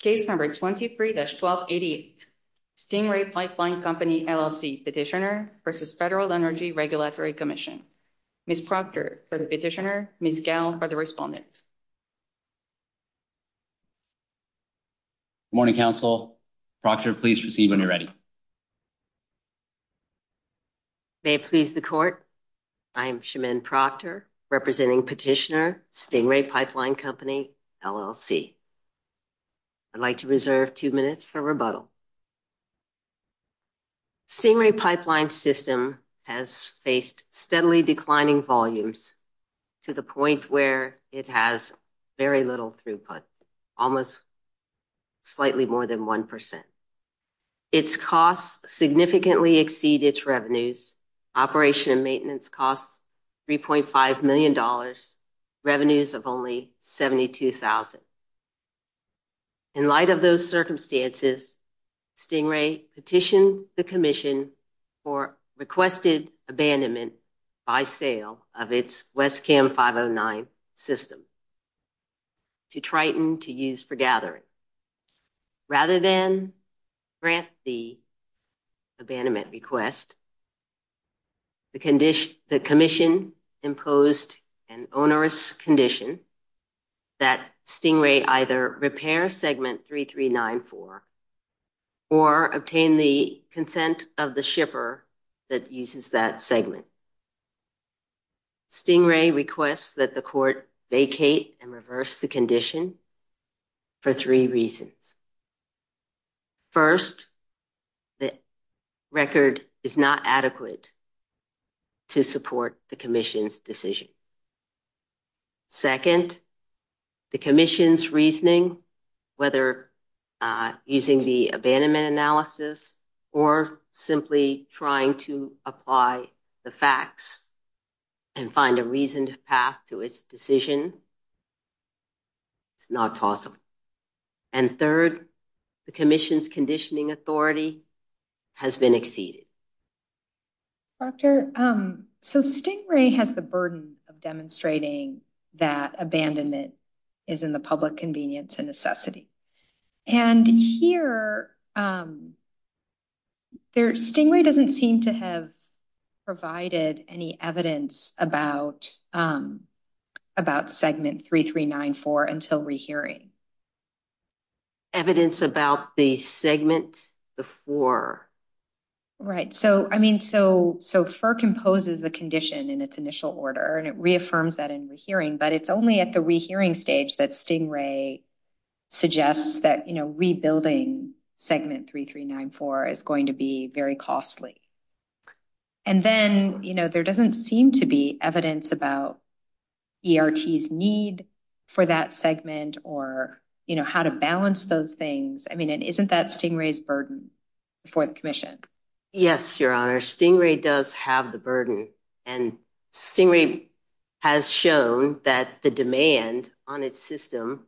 Case number 23-1288, Stingray Pipeline Company, LL.C. petitioner v. Federal Energy Regulatory Commission. Ms. Proctor for the petitioner, Ms. Gell for the respondent. Good morning, Council. Proctor, please proceed when you're ready. May it please the Court, I am Shemin Proctor, representing petitioner Stingray Pipeline Company, LL.C. I'd like to reserve two minutes for rebuttal. Stingray Pipeline System has faced steadily declining volumes to the point where it has very little throughput, almost slightly more than 1%. Its costs significantly exceed its revenues. Operation and maintenance costs $3.5 million, revenues of only $72,000. In light of those circumstances, Stingray petitioned the Commission for requested abandonment by sale of its WESCAM-509 system to Triton to use for abandonment. Rather than grant the abandonment request, the Commission imposed an onerous condition that Stingray either repair Segment 3394 or obtain the consent of the shipper that uses that segment. Stingray requests that the Court vacate and reverse the condition for three reasons. First, the record is not adequate to support the Commission's decision. Second, the Commission's reasoning, whether using the abandonment analysis or simply trying to apply the facts and find a reasoned path to its decision, it's not possible. And third, the Commission's conditioning authority has been exceeded. Doctor, so Stingray has the burden of demonstrating that abandonment is in the have provided any evidence about Segment 3394 until rehearing? Evidence about the segment before? Right. So, I mean, so FERC imposes the condition in its initial order and it reaffirms that in rehearing, but it's only at the rehearing stage that Stingray suggests that, you know, rebuilding Segment 3394 is going to be very costly. And then, you know, there doesn't seem to be evidence about ERT's need for that segment or, you know, how to balance those things. I mean, and isn't that Stingray's burden before the Commission? Yes, Your Honor. Stingray does have the burden and Stingray has shown that the demand on its system,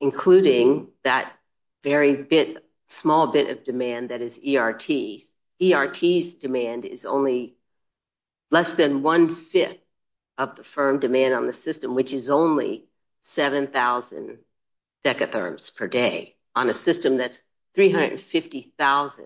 including that very bit, small bit of demand that is ERT. ERT's demand is only less than one-fifth of the firm demand on the system, which is only 7,000 decatherms per day on a system that's 350,000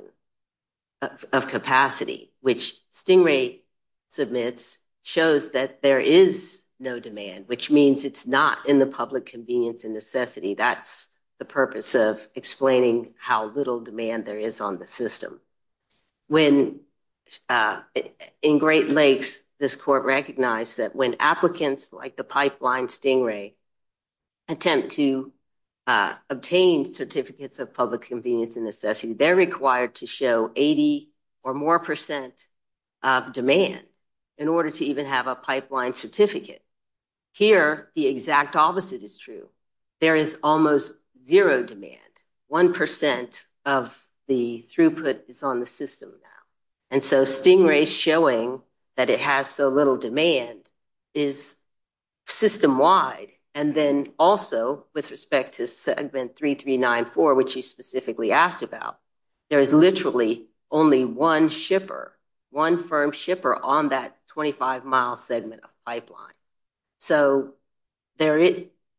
of capacity, which Stingray submits shows that there is no demand, which means it's not in the public convenience and necessity. That's the purpose of explaining how little demand there is on the system. When in Great Lakes, this Court recognized that when applicants like the pipeline Stingray attempt to obtain certificates of public convenience and necessity, they're required to show 80 or more percent of demand in order to even have a pipeline certificate. Here, the exact opposite is true. There is almost zero demand. One percent of the throughput is on the system now. And so Stingray showing that it has so little demand is system-wide. And then also, with respect to Segment 3394, which you specifically asked about, there is literally only one shipper, one firm shipper on that 25-mile segment of pipeline. So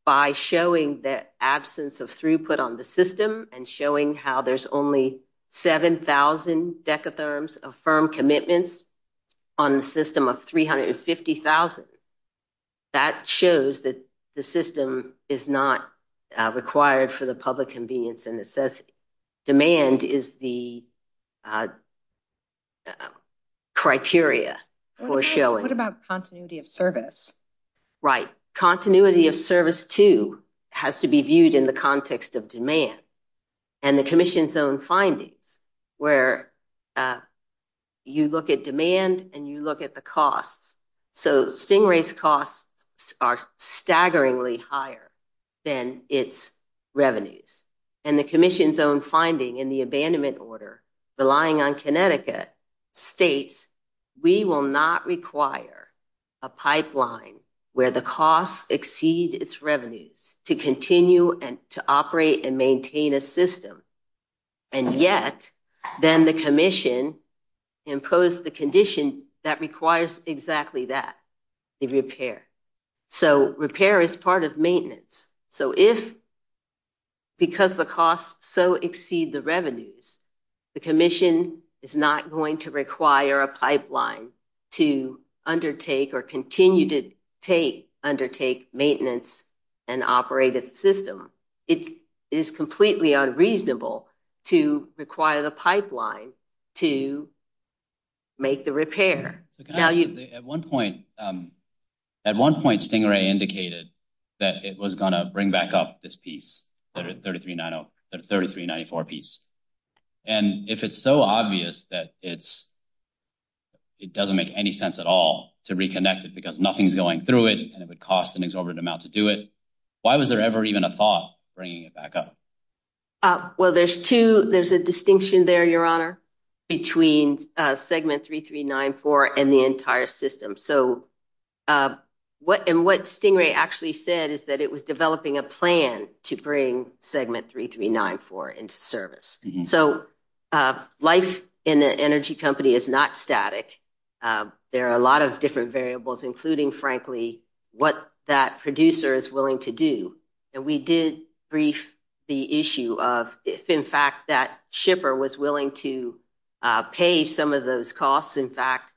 by showing the absence of throughput on the system and showing how there's only 7,000 decatherms of firm commitments on a of 350,000, that shows that the system is not required for the public convenience and necessity. Demand is the criteria for showing. What about continuity of service? Right. Continuity of service, too, has to be viewed in the context of demand. And the Commission's own findings, where you look at demand and you look at the costs, so Stingray's costs are staggeringly higher than its revenues. And the Commission's own finding in the abandonment order, relying on Connecticut, states we will not require a pipeline where the costs exceed its revenues to continue and to operate and maintain a system. And yet, then the Commission imposed the condition that requires exactly that, a repair. So repair is part of maintenance. So if, because the costs so exceed the revenues, the Commission is not going to require a pipeline to undertake or continue to take, undertake maintenance and operate at the system. It is completely unreasonable to require the pipeline to make the repair. At one point, Stingray indicated that it was going to bring back up this piece, the 3390, the 3394 piece. And if it's so obvious that it's, it doesn't make any sense at all to reconnect it because nothing's going through it, and it would cost an exorbitant amount to do it, why was there ever even a thought bringing it back up? Well, there's two, there's a distinction there, Your Honor, between segment 3394 and the entire system. So what, and what Stingray actually said is that it was developing a plan to bring segment 3394 into service. So life in the energy company is not static. There are a lot of different variables, including, frankly, what that producer is willing to do. And we did brief the issue of if, in fact, that shipper was willing to pay some of those costs, in fact,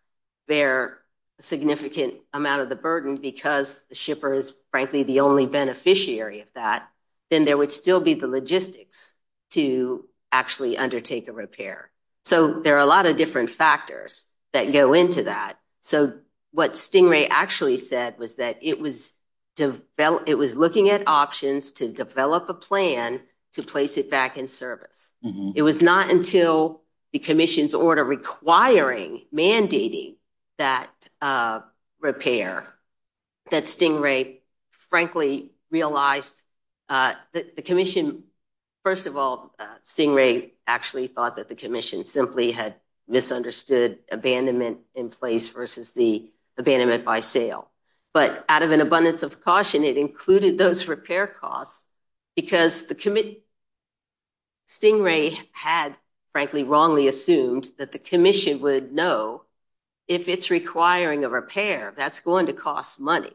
bear a significant amount of the burden because the shipper is, frankly, the only beneficiary of that, then there would still be the logistics to actually undertake a repair. So there are a lot of different factors that go into that. So what Stingray actually said was that it was looking at options to develop a plan to place it back in service. It was not until the commission's order requiring, mandating that repair that Stingray, frankly, realized that the commission, first of all, Stingray actually thought that the commission simply had misunderstood abandonment in place versus the abandonment by sale. But out of an abundance of caution, it included those repair costs because Stingray had, frankly, wrongly assumed that the commission would know if it's requiring a repair, that's going to cost money.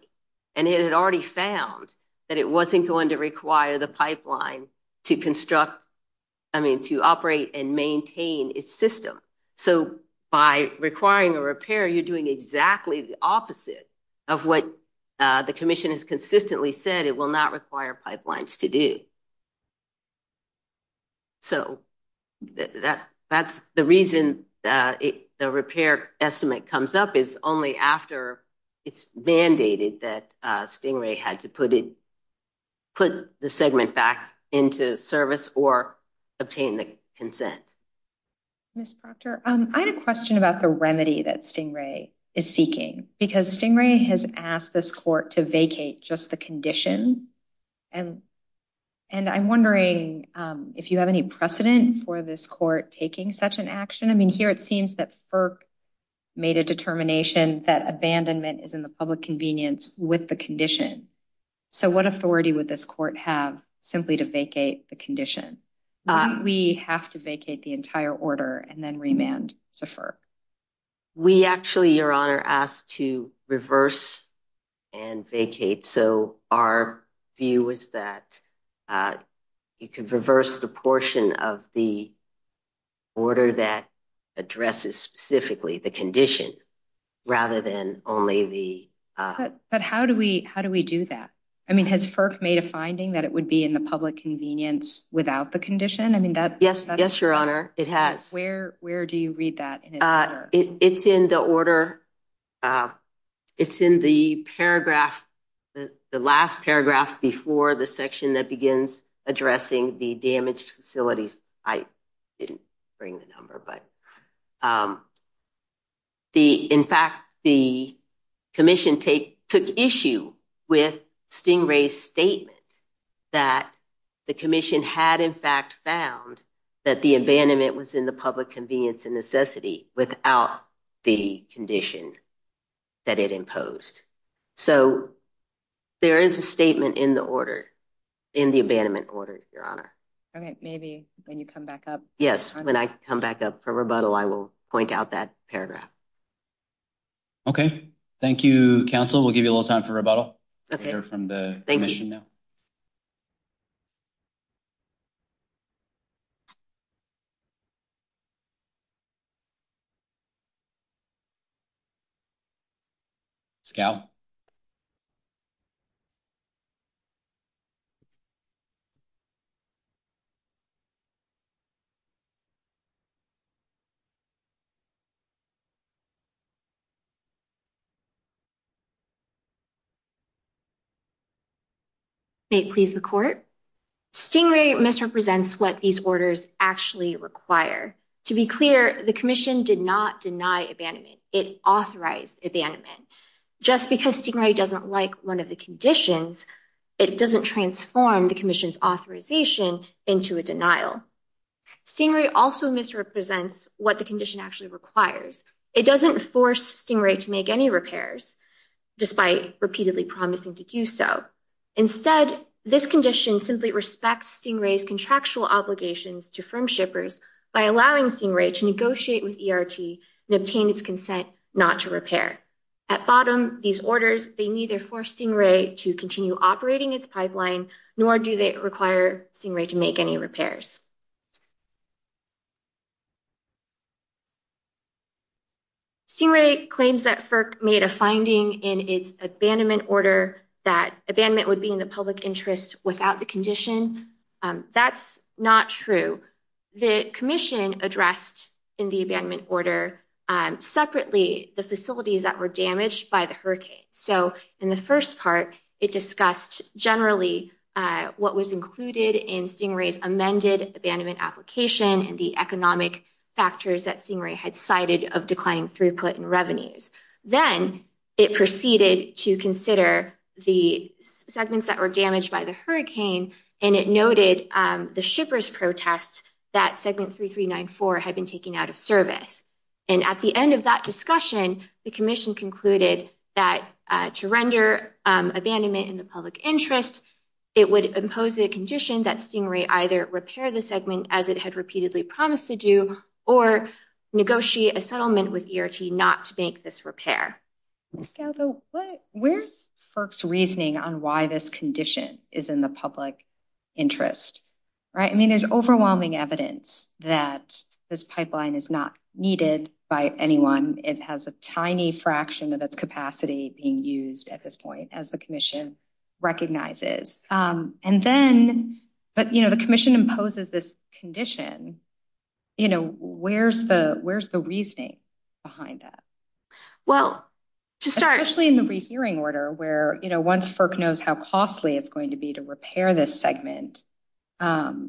And it had already found that it wasn't going to require the pipeline to construct, I mean, to operate and maintain its system. So by requiring a repair, you're doing exactly the opposite of what the commission has consistently said it will not require pipelines to do. So that's the reason the repair estimate comes up is only after it's mandated that Stingray had to put it, put the segment back into service or obtain the consent. Ms. Proctor, I had a question about the remedy that Stingray is seeking because Stingray has asked this court to vacate just the condition and I'm wondering if you have any precedent for this court taking such an action. I mean, here it seems that FERC made a determination that abandonment is in the public convenience with the condition. So what authority would this court have simply to vacate the condition? We have to vacate the entire order and then remand to FERC. We actually, Your Honor, asked to reverse and vacate. So our view is that you can reverse the portion of the order that addresses specifically the condition rather than only the. But how do we, how do we do that? I mean, has FERC made a finding that it would be in the public convenience without the condition? I mean, that. Yes. Yes, Your Honor. It has. Where do you read that? It's in the order. It's in the paragraph, the last paragraph before the section that begins addressing the damaged facilities. I didn't bring the number, but in fact, the commission took issue with Stingray's statement that the commission had in fact found that the abandonment was in the public convenience and necessity without the condition that it imposed. So there is a statement in the order, in the abandonment order, Your Honor. Okay. Maybe when you come back up. Yes. When I come back up for rebuttal, I will point out that paragraph. Okay. Thank you, counsel. We'll give you a little time for rebuttal. Okay. From the commission now. please the court. Stingray misrepresents what these orders actually require. To be clear, the commission did not deny abandonment. It authorized abandonment. Just because Stingray doesn't like one of the conditions, it doesn't transform the commission's authorization into a denial. Stingray also misrepresents what the condition actually requires. It doesn't force Stingray to make any repairs, despite repeatedly promising to do so. Instead, this condition simply respects Stingray's contractual obligations to firm shippers by allowing Stingray to negotiate with ERT and obtain its consent not to repair. At bottom, these orders, they neither force Stingray to continue operating its pipeline, nor do they require Stingray to make any repairs. Stingray claims that FERC made a finding in its abandonment order that abandonment would be in the public interest without the condition. That's not true. The commission addressed in the abandonment order separately the facilities that were damaged by the hurricane. So in the first part, it discussed generally what was included in Stingray's amended abandonment application and the economic factors that Stingray had cited of declining throughput and revenues. Then it proceeded to consider the segments that were damaged by the hurricane. And it noted the shippers' protest that segment 3394 had been taken out of service. And at the end of that discussion, the commission concluded that to render abandonment in the public interest, it would impose a condition that Stingray either repair the segment as it had repeatedly promised to do, or negotiate a settlement with ERT not to make this repair. Where's FERC's reasoning on why this condition is in the public interest? I mean, there's overwhelming evidence that this pipeline is not needed by anyone. It has a tiny fraction of its capacity being used at this point, as the commission recognizes. And then, but the commission imposes this condition. You know, where's the reasoning behind that? Well, to start- Especially in the rehearing order, where once FERC knows how costly it's going to be to repair this segment, I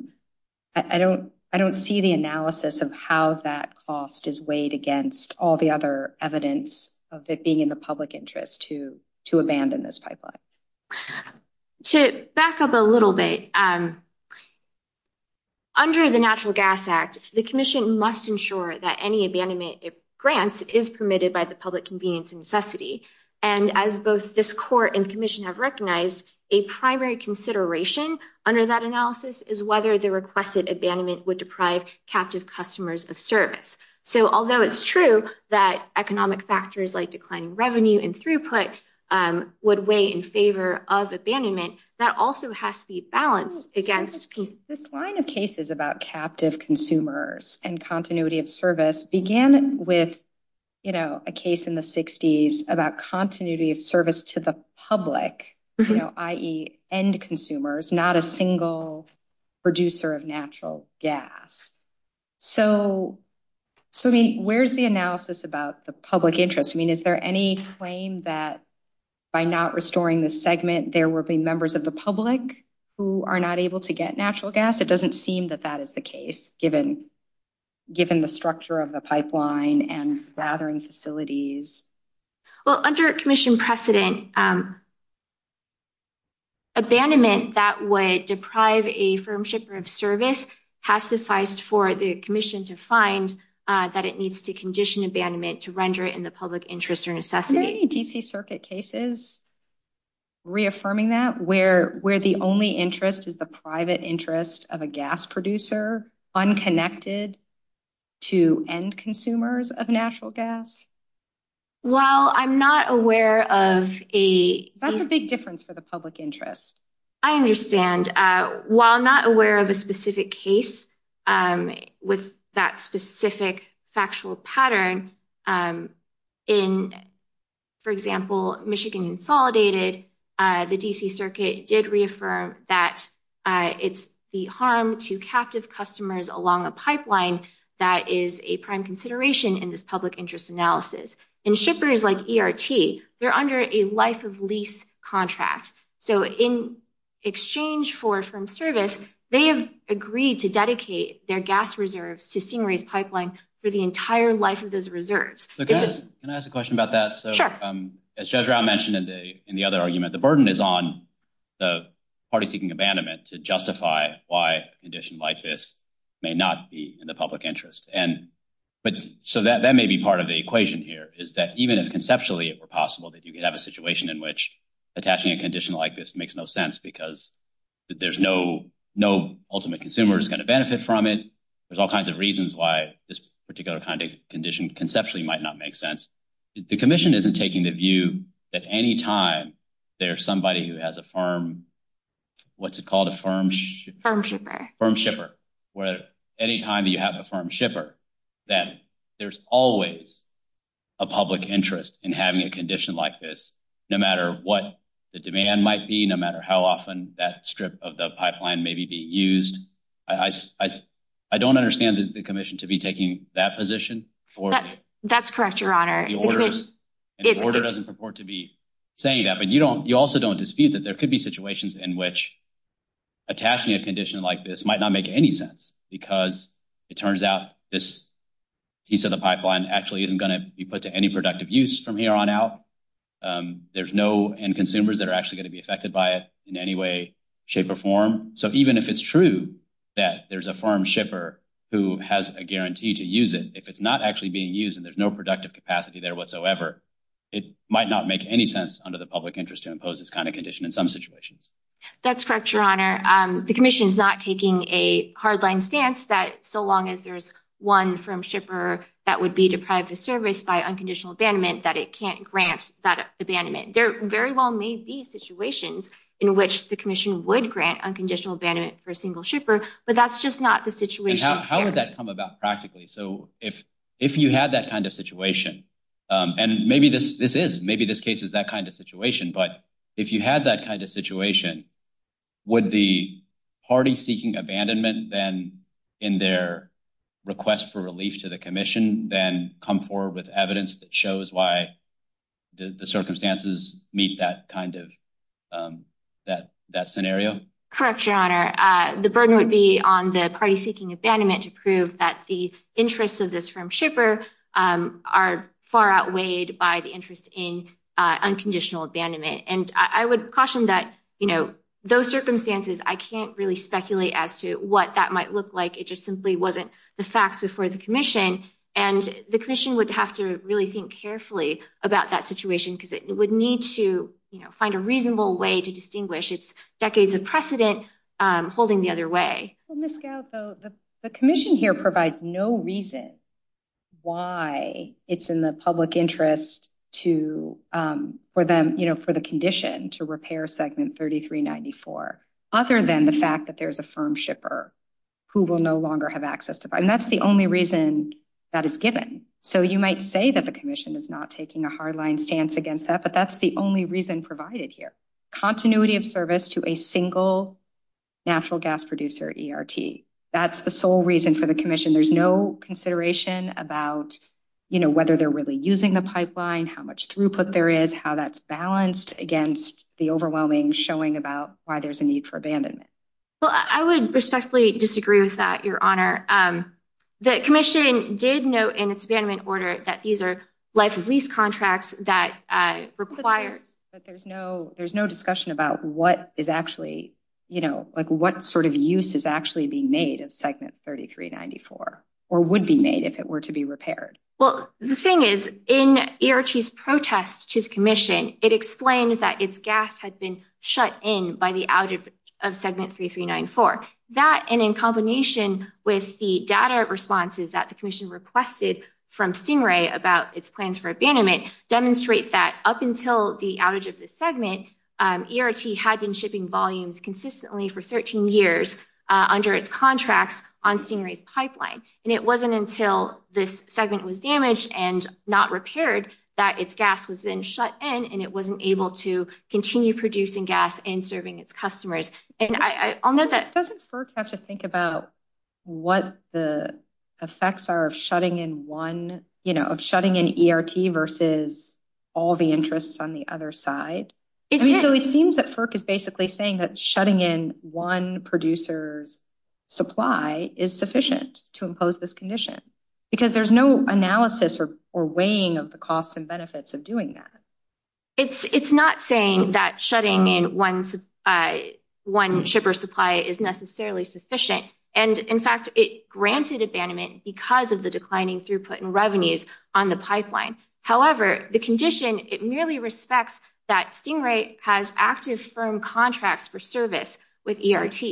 don't see the analysis of how that cost is weighed against all the other evidence of it being in the public interest to abandon this pipeline. To back up a little bit. Under the Natural Gas Act, the commission must ensure that any abandonment grants is permitted by the public convenience necessity. And as both this court and commission have recognized, a primary consideration under that analysis is whether the requested abandonment would deprive captive customers of service. So although it's true that economic factors like declining revenue and throughput would weigh in favor of abandonment, that also has to be balanced against- This line of cases about captive consumers and continuity of service began with a case in the 60s about continuity of service to the public, i.e. end consumers, not a single producer of natural gas. So where's the analysis about the public interest? I mean, is there any claim that by not restoring the segment, there will be members of the public who are not able to get natural gas? It doesn't seem that that is the case, given the structure of the pipeline and gathering facilities. Well, under commission precedent, abandonment that would deprive a firm shipper of service has sufficed for the commission to find that it needs to condition abandonment to render it in the public interest or necessity. Is there any DC Circuit cases reaffirming that, where the only interest is the private interest of a gas producer, unconnected to end consumers of natural gas? Well, I'm not aware of a- That's a big difference for the public interest. I understand. While not aware of a specific case with that specific factual pattern, in, for example, Michigan Insolidated, the DC Circuit did reaffirm that it's the harm to captive customers along a pipeline that is a prime consideration in this public interest analysis. And shippers like ERT, they're under a life of lease contract. So in exchange for firm service, they have agreed to dedicate their gas reserves to Stingray's pipeline for the entire life of those reserves. So can I ask a question about that? Sure. As Judge Rao mentioned in the other argument, the burden is on the party seeking abandonment to justify why a condition like this may not be in the public interest. So that may be part of the equation here, is that even if conceptually it were possible that you could have a situation in which attaching a condition like this makes no sense because there's no ultimate consumer who's going to benefit from it. There's all kinds of reasons why this particular condition conceptually might not make sense. The commission isn't taking the view that any time there's somebody who has a firm, what's it called, a firm? Firm shipper. Firm shipper, where any time that you have a firm shipper, then there's always a public interest in having a condition like this, no matter what the demand might be, no matter how often that strip of the pipeline may be being used. I don't understand the commission to be taking that position. That's correct, Your Honor. The order doesn't purport to be saying that, but you also don't dispute that there could be situations in which attaching a condition like this might not make any sense because it turns out this piece of the pipeline actually isn't going to be put to any productive use from here on out. There's no end consumers that are actually going to be affected by it in any way, shape, or form. So even if it's true that there's a firm shipper who has a guarantee to use it, if it's not actually being used and there's no productive capacity there whatsoever, it might not make any sense under the public interest to impose this kind of condition in some situations. That's correct, Your Honor. The commission is not taking a hardline stance that so long as there's one firm shipper that would be deprived of service by unconditional abandonment that it can't grant that abandonment. There very well may be situations in which the commission would grant unconditional abandonment for a single shipper, but that's just not the situation here. How would that come about practically? So if you had that kind of situation, and maybe this is, maybe this case is that kind of situation, but if you had that kind of situation, would the party seeking abandonment then in their request for relief to the commission then come forward with evidence that shows why the circumstances meet that kind of scenario? Correct, Your Honor. The burden would be on the party seeking abandonment to prove that the interests of this firm shipper are far outweighed by the interest in unconditional abandonment. And I would caution that those circumstances, I can't really speculate as to what that might look like. It just simply wasn't the facts before the commission. And the commission would have to really think carefully about that situation because it would need to find a reasonable way to distinguish its decades of precedent holding the other way. Ms. Gout, the commission here provides no reason why it's in the public interest for the condition to repair segment 3394, other than the fact that there is a firm shipper who will no longer have access to buy. And that's the only reason that is given. So you might say that the commission is not taking a hard line stance against that, but that's the only reason provided here. Continuity of service to a single natural gas producer ERT. That's the sole reason for the commission. There's no consideration about whether they're really using the pipeline, how much throughput there is, how that's balanced against the overwhelming showing about why there's a need for abandonment. Well, I would respectfully disagree with that, Your Honor. The commission did note in its abandonment order that these are life of lease contracts that require. But there's no discussion about what sort of use is actually being made of segment 3394 or would be made if it were to be repaired. Well, the thing is, in ERT's protest to the commission, it explained that its gas had been shut in by the outage of segment 3394. That, and in combination with the data responses that the commission requested from Stingray about its plans for abandonment, demonstrate that up until the outage of this segment, ERT had been shipping volumes consistently for 13 years under its contracts on Stingray's pipeline. And it wasn't until this segment was damaged and not repaired that its gas was then shut in, and it wasn't able to continue producing gas and serving its customers. And I'll note that- Doesn't FERC have to think about what the effects are of shutting in ERT versus all the interests on the other side? It did. So it seems that FERC is basically saying that shutting in one producer's supply is sufficient to impose this condition. Because there's no analysis or weighing of the costs and benefits of doing that. It's not saying that shutting in one shipper's supply is necessarily sufficient. And in fact, it granted abandonment because of the declining throughput and revenues on the pipeline. However, the condition, it merely respects that Stingray has active firm contracts for service with ERT.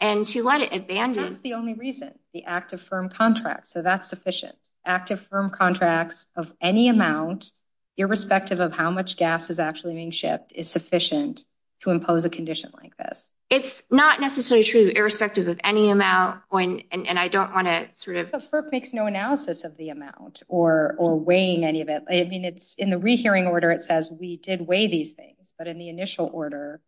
And to let it abandon- And that's the only reason, the active firm contracts. So that's sufficient. Active firm contracts of any amount, irrespective of how much gas is actually being shipped, is sufficient to impose a condition like this. It's not necessarily true, irrespective of any amount. And I don't want to sort of- But FERC makes no analysis of the amount or weighing any of it. I mean, in the rehearing order, it says we did weigh these things. But in the initial order,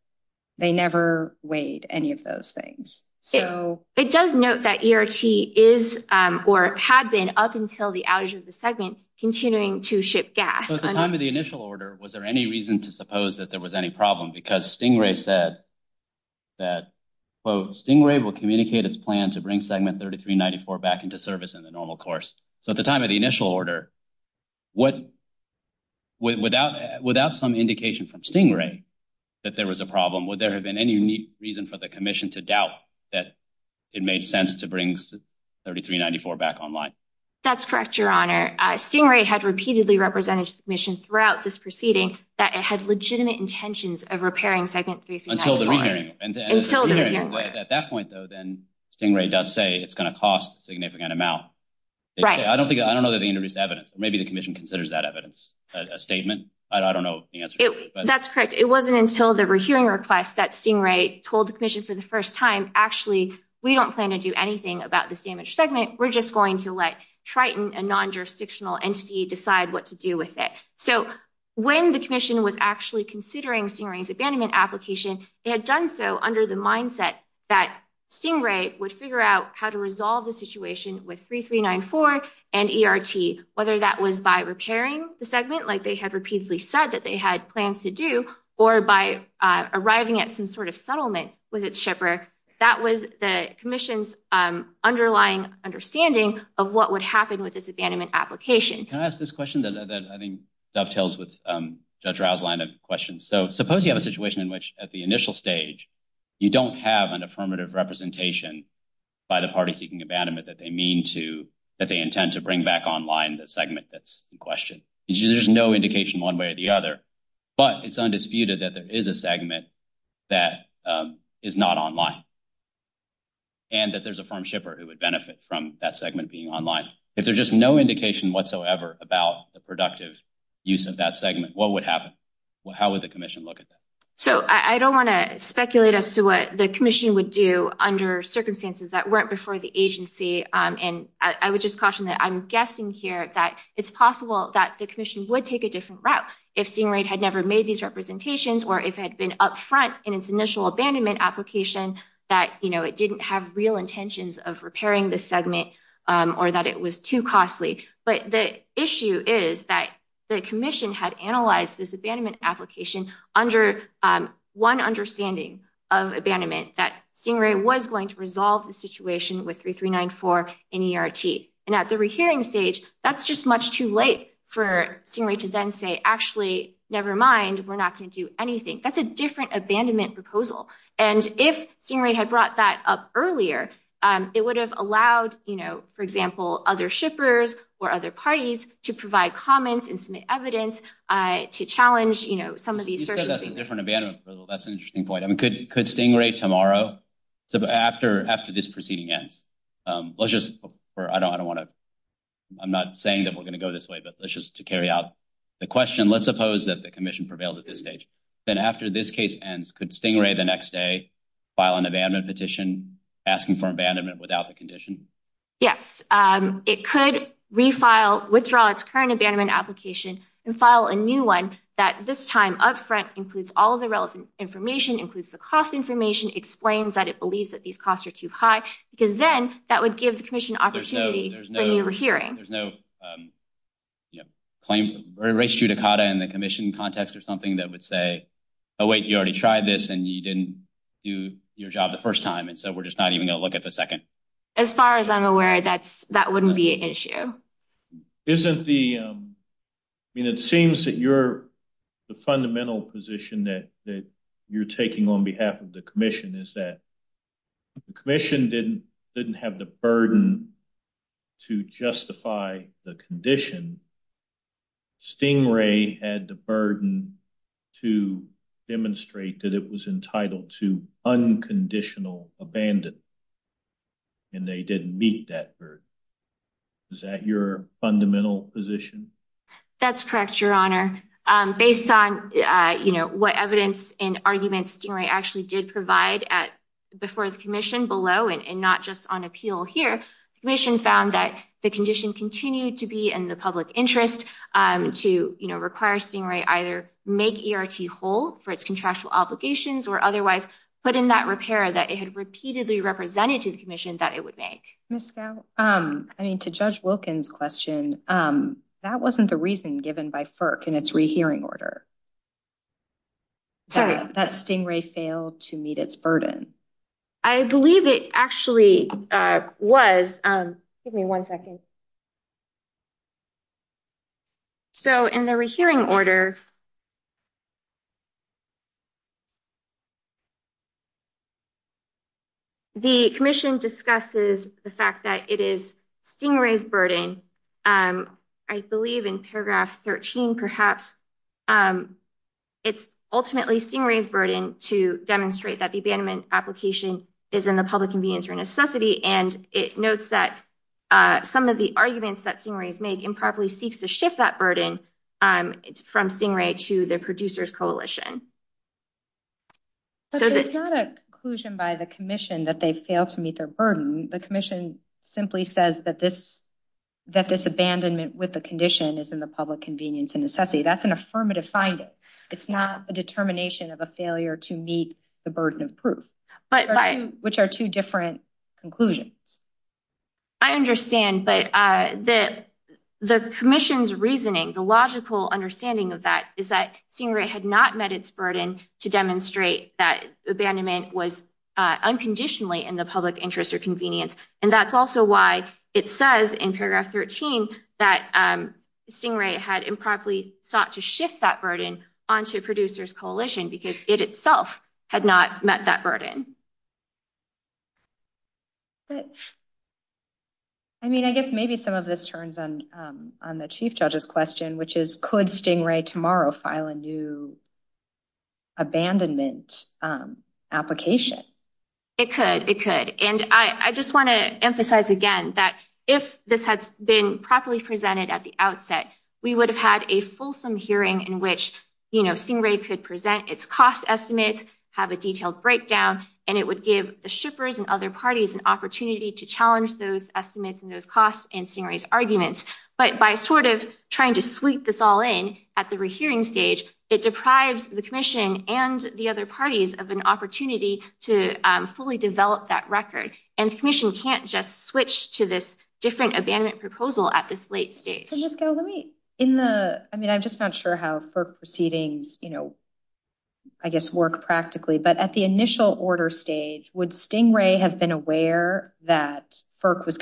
they never weighed any of those things. So- It does note that ERT is or had been, up until the outage of the segment, continuing to ship gas. So at the time of the initial order, was there any reason to suppose that there was any problem? Because Stingray said that, quote, "'Stingray will communicate its plan "'to bring Segment 3394 back into service "'in the normal course.'" So at the time of the initial order, without some indication from Stingray that there was a problem, would there have been any reason for the commission to doubt that it made sense to bring 3394 back online? That's correct, Your Honor. Stingray had repeatedly represented to the commission throughout this proceeding that it had legitimate intentions of repairing Segment 3394. Until the rehearing. Until the rehearing. At that point, though, then Stingray does say it's gonna cost a significant amount. Right. I don't know that they introduced evidence. Maybe the commission considers that evidence, a statement. I don't know the answer to that. That's correct. It wasn't until the rehearing request that Stingray told the commission for the first time, "'Actually, we don't plan to do anything "'about this damaged segment. "'We're just going to let Triton, "'a non-jurisdictional entity, decide what to do with it.'" So when the commission was actually considering Stingray's abandonment application, they had done so under the mindset that Stingray would figure out how to resolve the situation with 3394 and ERT, whether that was by repairing the segment, like they had repeatedly said that they had plans to do, or by arriving at some sort of settlement with its shipwreck. That was the commission's underlying understanding of what would happen with this abandonment application. Can I ask this question that I think dovetails with Judge Rau's line of questions? So suppose you have a situation in which at the initial stage, you don't have an affirmative representation by the party seeking abandonment that they intend to bring back online the segment that's in question. There's no indication one way or the other, but it's undisputed that there is a segment that is not online, and that there's a firm shipper who would benefit from that segment being online. If there's just no indication whatsoever about the productive use of that segment, what would happen? How would the commission look at that? So I don't want to speculate as to what the commission would do under circumstances that weren't before the agency. And I would just caution that I'm guessing here that it's possible that the commission would take a different route if Stingray had never made these representations or if it had been upfront in its initial abandonment application that it didn't have real intentions of repairing the segment or that it was too costly. But the issue is that the commission had analyzed this abandonment application under one understanding of abandonment that Stingray was going to resolve the situation with 3394 and ERT. And at the rehearing stage, that's just much too late for Stingray to then say, actually, nevermind, we're not going to do anything. That's a different abandonment proposal. And if Stingray had brought that up earlier, it would have allowed, for example, other shippers or other parties to provide comments and submit evidence to challenge some of these assertions. You said that's a different abandonment proposal. That's an interesting point. I mean, could Stingray tomorrow, so after this proceeding ends, let's just, I don't want to, I'm not saying that we're going to go this way, but let's just to carry out the question, let's suppose that the commission prevails at this stage. Then after this case ends, could Stingray the next day file an abandonment petition asking for abandonment without the condition? Yes, it could refile, withdraw its current abandonment application and file a new one that this time upfront includes all of the relevant information, includes the cost information, explains that it believes that these costs are too high, because then that would give the commission an opportunity for a new hearing. There's no claim, or issue to CATA in the commission context or something that would say, oh, wait, you already tried this and you didn't do your job the first time. And so we're just not even going to look at the second. As far as I'm aware, that wouldn't be an issue. Isn't the, I mean, it seems that you're, the fundamental position that you're taking on behalf of the commission is that the commission didn't have the burden to justify the condition. Stingray had the burden to demonstrate that it was entitled to unconditional abandon and they didn't meet that burden. Is that your fundamental position? That's correct, your honor. Based on what evidence and arguments Stingray actually did provide before the commission below and not just on appeal here, the commission found that the condition continued to be in the public interest to require Stingray either make ERT whole for its contractual obligations or otherwise put in that repair that it had repeatedly represented to the commission that it would make. Ms. Scow, I mean, to Judge Wilkins' question, that wasn't the reason given by FERC in its rehearing order. Sorry. That Stingray failed to meet its burden. I believe it actually was, give me one second. So in the rehearing order, the commission discusses the fact that it is Stingray's burden. I believe in paragraph 13, perhaps, it's ultimately Stingray's burden to demonstrate that the abandonment application is in the public convenience or necessity. And it notes that some of the arguments that Stingray's make improperly seeks to shift that burden from Stingray to the producers coalition. So that- But it's not a conclusion by the commission that they failed to meet their burden. The commission simply says that this abandonment with the condition is in the public convenience and necessity, that's an affirmative finding. It's not a determination of a failure to meet the burden of proof, which are two different conclusions. I understand, but the commission's reasoning, the logical understanding of that is that Stingray had not met its burden to demonstrate that abandonment was unconditionally in the public interest or convenience. And that's also why it says in paragraph 13 that Stingray had improperly sought to shift that burden onto producers coalition because it itself had not met that burden. I mean, I guess maybe some of this turns on the chief judge's question, which is could Stingray tomorrow file a new abandonment application? It could, it could. And I just wanna emphasize again that if this had been properly presented at the outset, we would have had a fulsome hearing in which Stingray could present its cost estimates, have a detailed breakdown, and it would give the shippers and other parties an opportunity to challenge those estimates and those costs in Stingray's arguments. But by sort of trying to sweep this all in at the rehearing stage, it deprives the commission and the other parties of an opportunity to fully develop that record. And the commission can't just switch to this different abandonment proposal at this late stage. So Jessica, let me, in the, I mean, I'm just not sure how FERC proceedings, you know, I guess work practically, but at the initial order stage, would Stingray have been aware that FERC was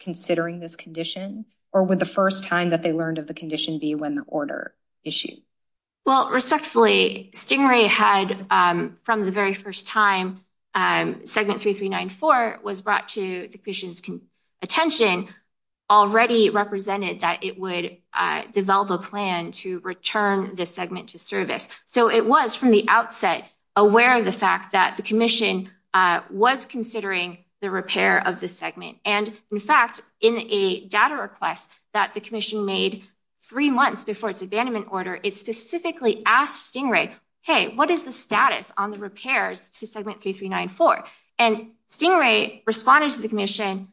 considering this condition or would the first time that they learned of the condition be when the order issued? Well, respectfully, Stingray had from the very first time, segment 3394 was brought to the commission's attention, already represented that it would develop a plan to return this segment to service. So it was from the outset aware of the fact that the commission was considering the repair of the segment. And in fact, in a data request that the commission made three months before its abandonment order, it specifically asked Stingray, hey, what is the status on the repairs to segment 3394? And Stingray responded to the commission,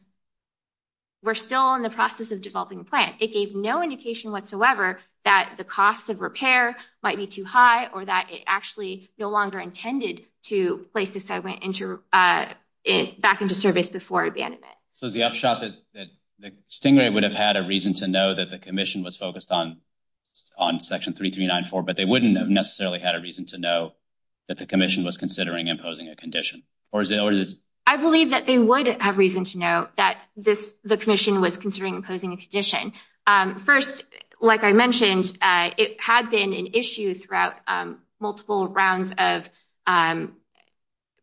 we're still in the process of developing a plan. It gave no indication whatsoever that the cost of repair might be too high or that it actually no longer intended to place this segment back into service before abandonment. So the upshot that Stingray would have had a reason to know that the commission was focused on section 3394, but they wouldn't have necessarily had a reason to know that the commission was considering imposing a condition, or is it? I believe that they would have reason to know that the commission was considering imposing a condition. First, like I mentioned, it had been an issue throughout multiple rounds of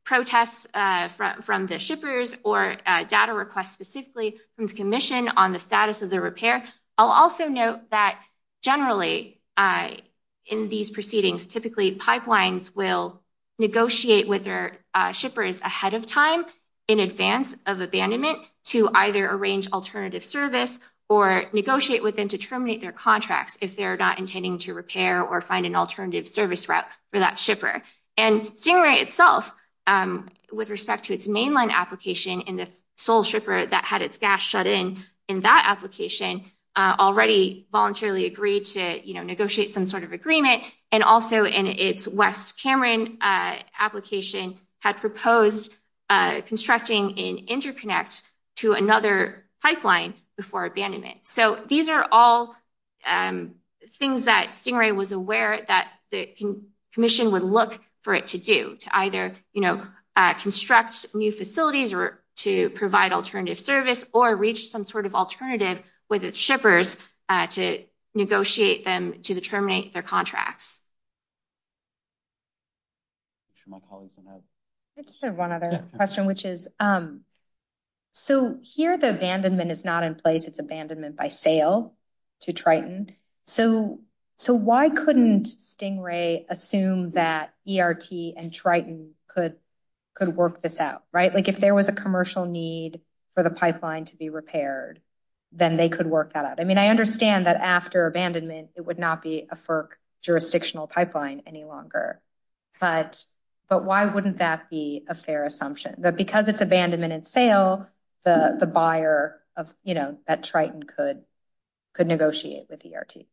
protests from the shippers or data requests specifically from the commission on the status of the repair. I'll also note that generally in these proceedings, typically pipelines will negotiate with their shippers ahead of time in advance of abandonment to either arrange alternative service or negotiate with them to terminate their contracts if they're not intending to repair or find an alternative service route for that shipper. And Stingray itself with respect to its mainline application in the sole shipper that had its gas shut in in that application already voluntarily agreed to negotiate some sort of agreement. And also in its West Cameron application had proposed constructing an interconnect to another pipeline before abandonment. So these are all things that Stingray was aware that the commission would look for it to do to either construct new facilities to provide alternative service or reach some sort of alternative with its shippers to negotiate them to the terminate their contracts. I just have one other question which is, so here the abandonment is not in place, it's abandonment by sale to Triton. So why couldn't Stingray assume that ERT and Triton could work this out, right? Like if there was a commercial need for the pipeline to be repaired, then they could work that out. I mean, I understand that after abandonment it would not be a FERC jurisdictional pipeline any longer, but why wouldn't that be a fair assumption? That because it's abandonment and sale, the buyer of that Triton could negotiate with ERT.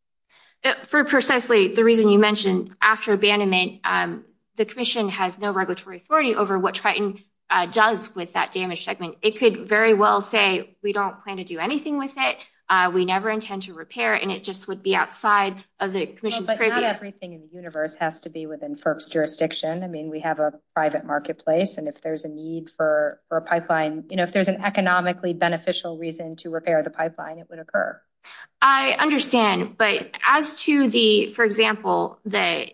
For precisely the reason you mentioned after abandonment, the commission has no regulatory authority over what Triton does with that damaged segment. It could very well say, we don't plan to do anything with it. We never intend to repair it and it just would be outside of the commission's- But not everything in the universe has to be within FERC's jurisdiction. I mean, we have a private marketplace and if there's a need for a pipeline, if there's an economically beneficial reason to repair the pipeline, it would occur. I understand, but as to the, for example, the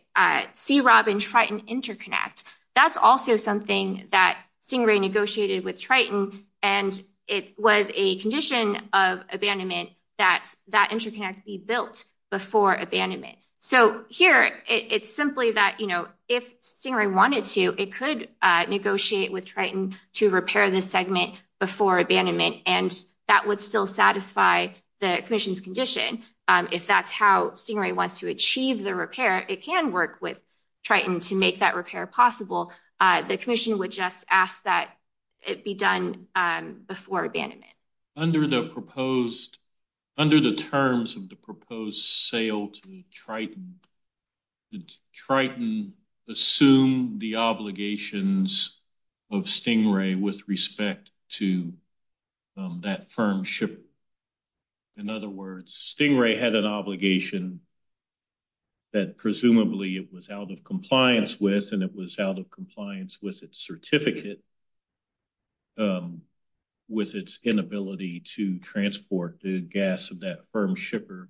C-ROB and Triton interconnect, that's also something that Stingray negotiated with Triton and it was a condition of abandonment that that interconnect be built before abandonment. So here, it's simply that if Stingray wanted to, it could negotiate with Triton to repair this segment before abandonment and that would still satisfy the commission's condition. If that's how Stingray wants to achieve the repair, it can work with Triton to make that repair possible. The commission would just ask that it be done before abandonment. Under the proposed, under the terms of the proposed sale to Triton, did Triton assume the obligations of Stingray with respect to that firm ship? In other words, Stingray had an obligation that presumably it was out of compliance with and it was out of compliance with its certificate with its inability to transport the gas of that firm shipper.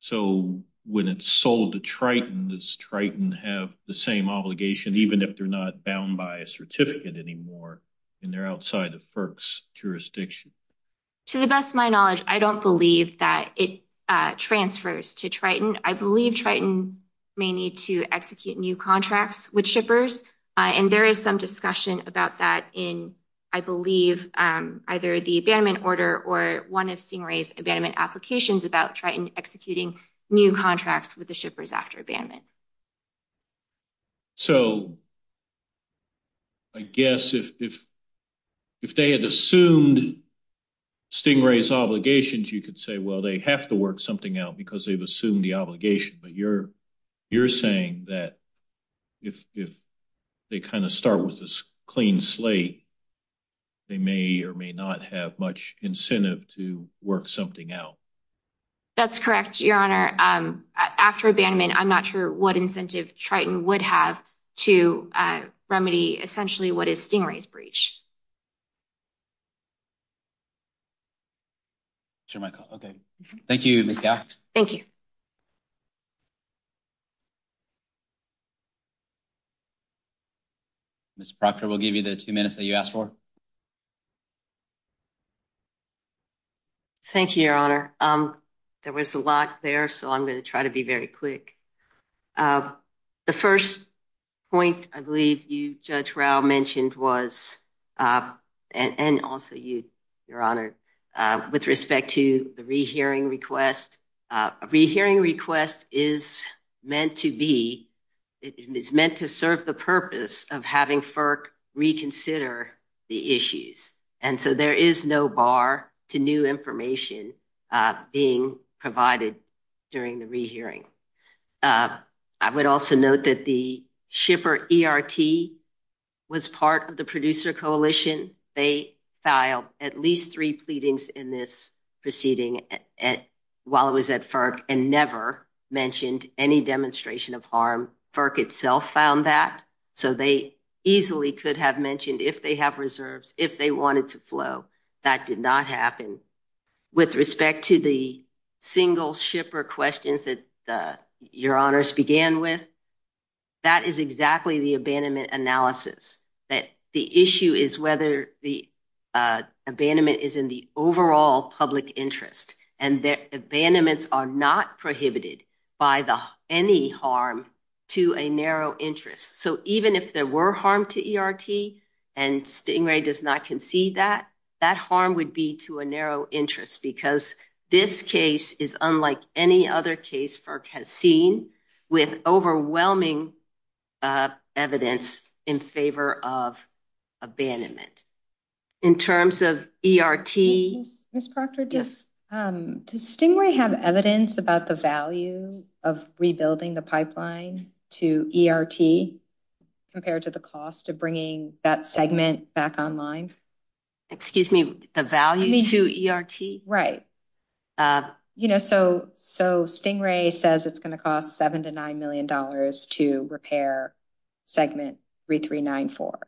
So when it's sold to Triton, does Triton have the same obligation, even if they're not bound by a certificate anymore and they're outside of FERC's jurisdiction? To the best of my knowledge, I don't believe that it transfers to Triton. I believe Triton may need to execute new contracts with shippers and there is some discussion about that in, I believe, either the abandonment order or one of Stingray's abandonment applications about Triton executing new contracts with the shippers after abandonment. So I guess if they had assumed Stingray's obligations, you could say, well, they have to work something out because they've assumed the obligation, but you're saying that if they kind of start with this clean slate, they may or may not have much incentive to work something out. That's correct, Your Honor. After abandonment, I'm not sure what incentive Triton would have to remedy, essentially, what is Stingray's breach. Sure, Michael, okay. Thank you, Ms. Gough. Thank you. Ms. Proctor, we'll give you the two minutes that you asked for. Thank you, Your Honor. There was a lot there, so I'm gonna try to be very quick. The first point I believe you, Judge Rao, mentioned was, and also you, Your Honor, with respect to the rehearing request, a rehearing request is meant to be, it is meant to serve the purpose of having FERC reconsider the issues. And so there is no bar to new information being provided during the rehearing. I would also note that the shipper ERT was part of the producer coalition. They filed at least three pleadings in this proceeding while it was at FERC and never mentioned any demonstration of harm. FERC itself found that, so they easily could have mentioned if they have reserves, if they wanted to flow. That did not happen. With respect to the single shipper questions that Your Honors began with, that is exactly the abandonment analysis, that the issue is whether the abandonment is in the overall public interest and that abandonments are not prohibited by any harm to a narrow interest. So even if there were harm to ERT and Stingray does not concede that, that harm would be to a narrow interest because this case is unlike any other case FERC has seen with overwhelming evidence in favor of abandonment. In terms of ERT. Ms. Proctor, does Stingray have evidence about the value of rebuilding the pipeline to ERT compared to the cost of bringing that segment back online? Excuse me, the value to ERT? Right. You know, so Stingray says it's gonna cost seven to $9 million to repair segment 3394.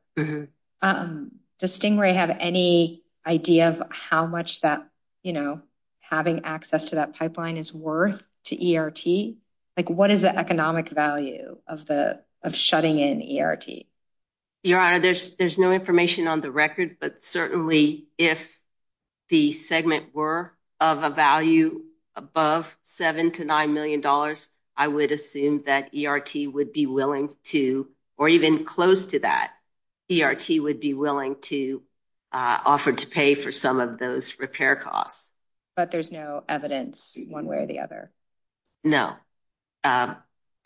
Does Stingray have any idea of how much that, you know, having access to that pipeline is worth to ERT? Like what is the economic value of shutting in ERT? Your Honor, there's no information on the record, but certainly if the segment were of a value above seven to $9 million, I would assume that ERT would be willing to, or even close to that, ERT would be willing to offer to pay for some of those repair costs. But there's no evidence one way or the other? No,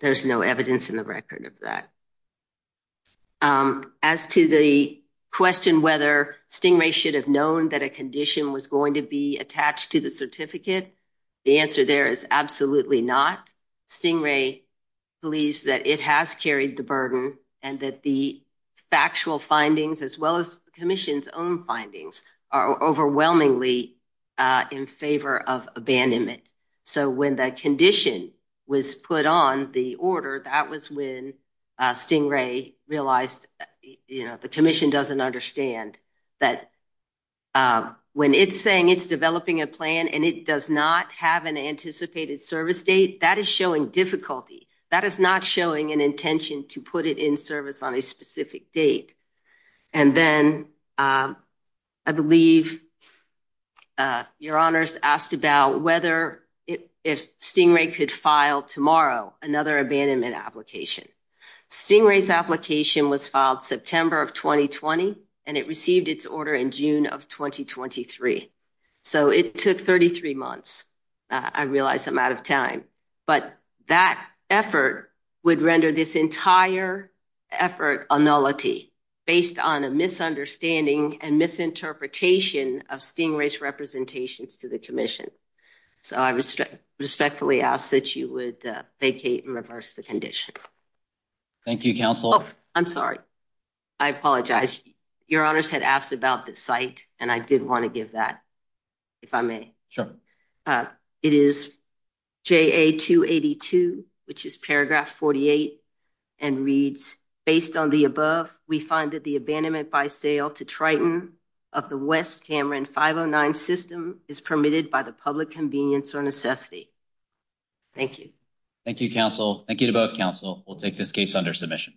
there's no evidence in the record of that. As to the question whether Stingray should have known that a condition was going to be attached to the certificate, the answer there is absolutely not. Stingray believes that it has carried the burden and that the factual findings, as well as the commission's own findings, are overwhelmingly in favor of abandonment. So when that condition was put on the order, that was when Stingray realized, you know, the commission doesn't understand that when it's saying it's developing a plan and it does not have an anticipated service date, that is showing difficulty. That is not showing an intention to put it in service on a specific date. And then I believe Your Honor's asked about whether if Stingray could file tomorrow another abandonment application. Stingray's application was filed September of 2020 and it received its order in June of 2023. So it took 33 months. I realize I'm out of time, but that effort would render this entire effort a nullity based on a misunderstanding and misinterpretation of Stingray's representations to the commission. So I respectfully ask that you would vacate and reverse the condition. Thank you, counsel. Oh, I'm sorry. I apologize. Your Honor's had asked about the site and I did want to give that, if I may. It is JA 282, which is paragraph 48, and reads, based on the above, we find that the abandonment by sale to Triton of the West Cameron 509 system is permitted by the public convenience or necessity. Thank you. Thank you, counsel. Thank you to both counsel. We'll take this case under submission.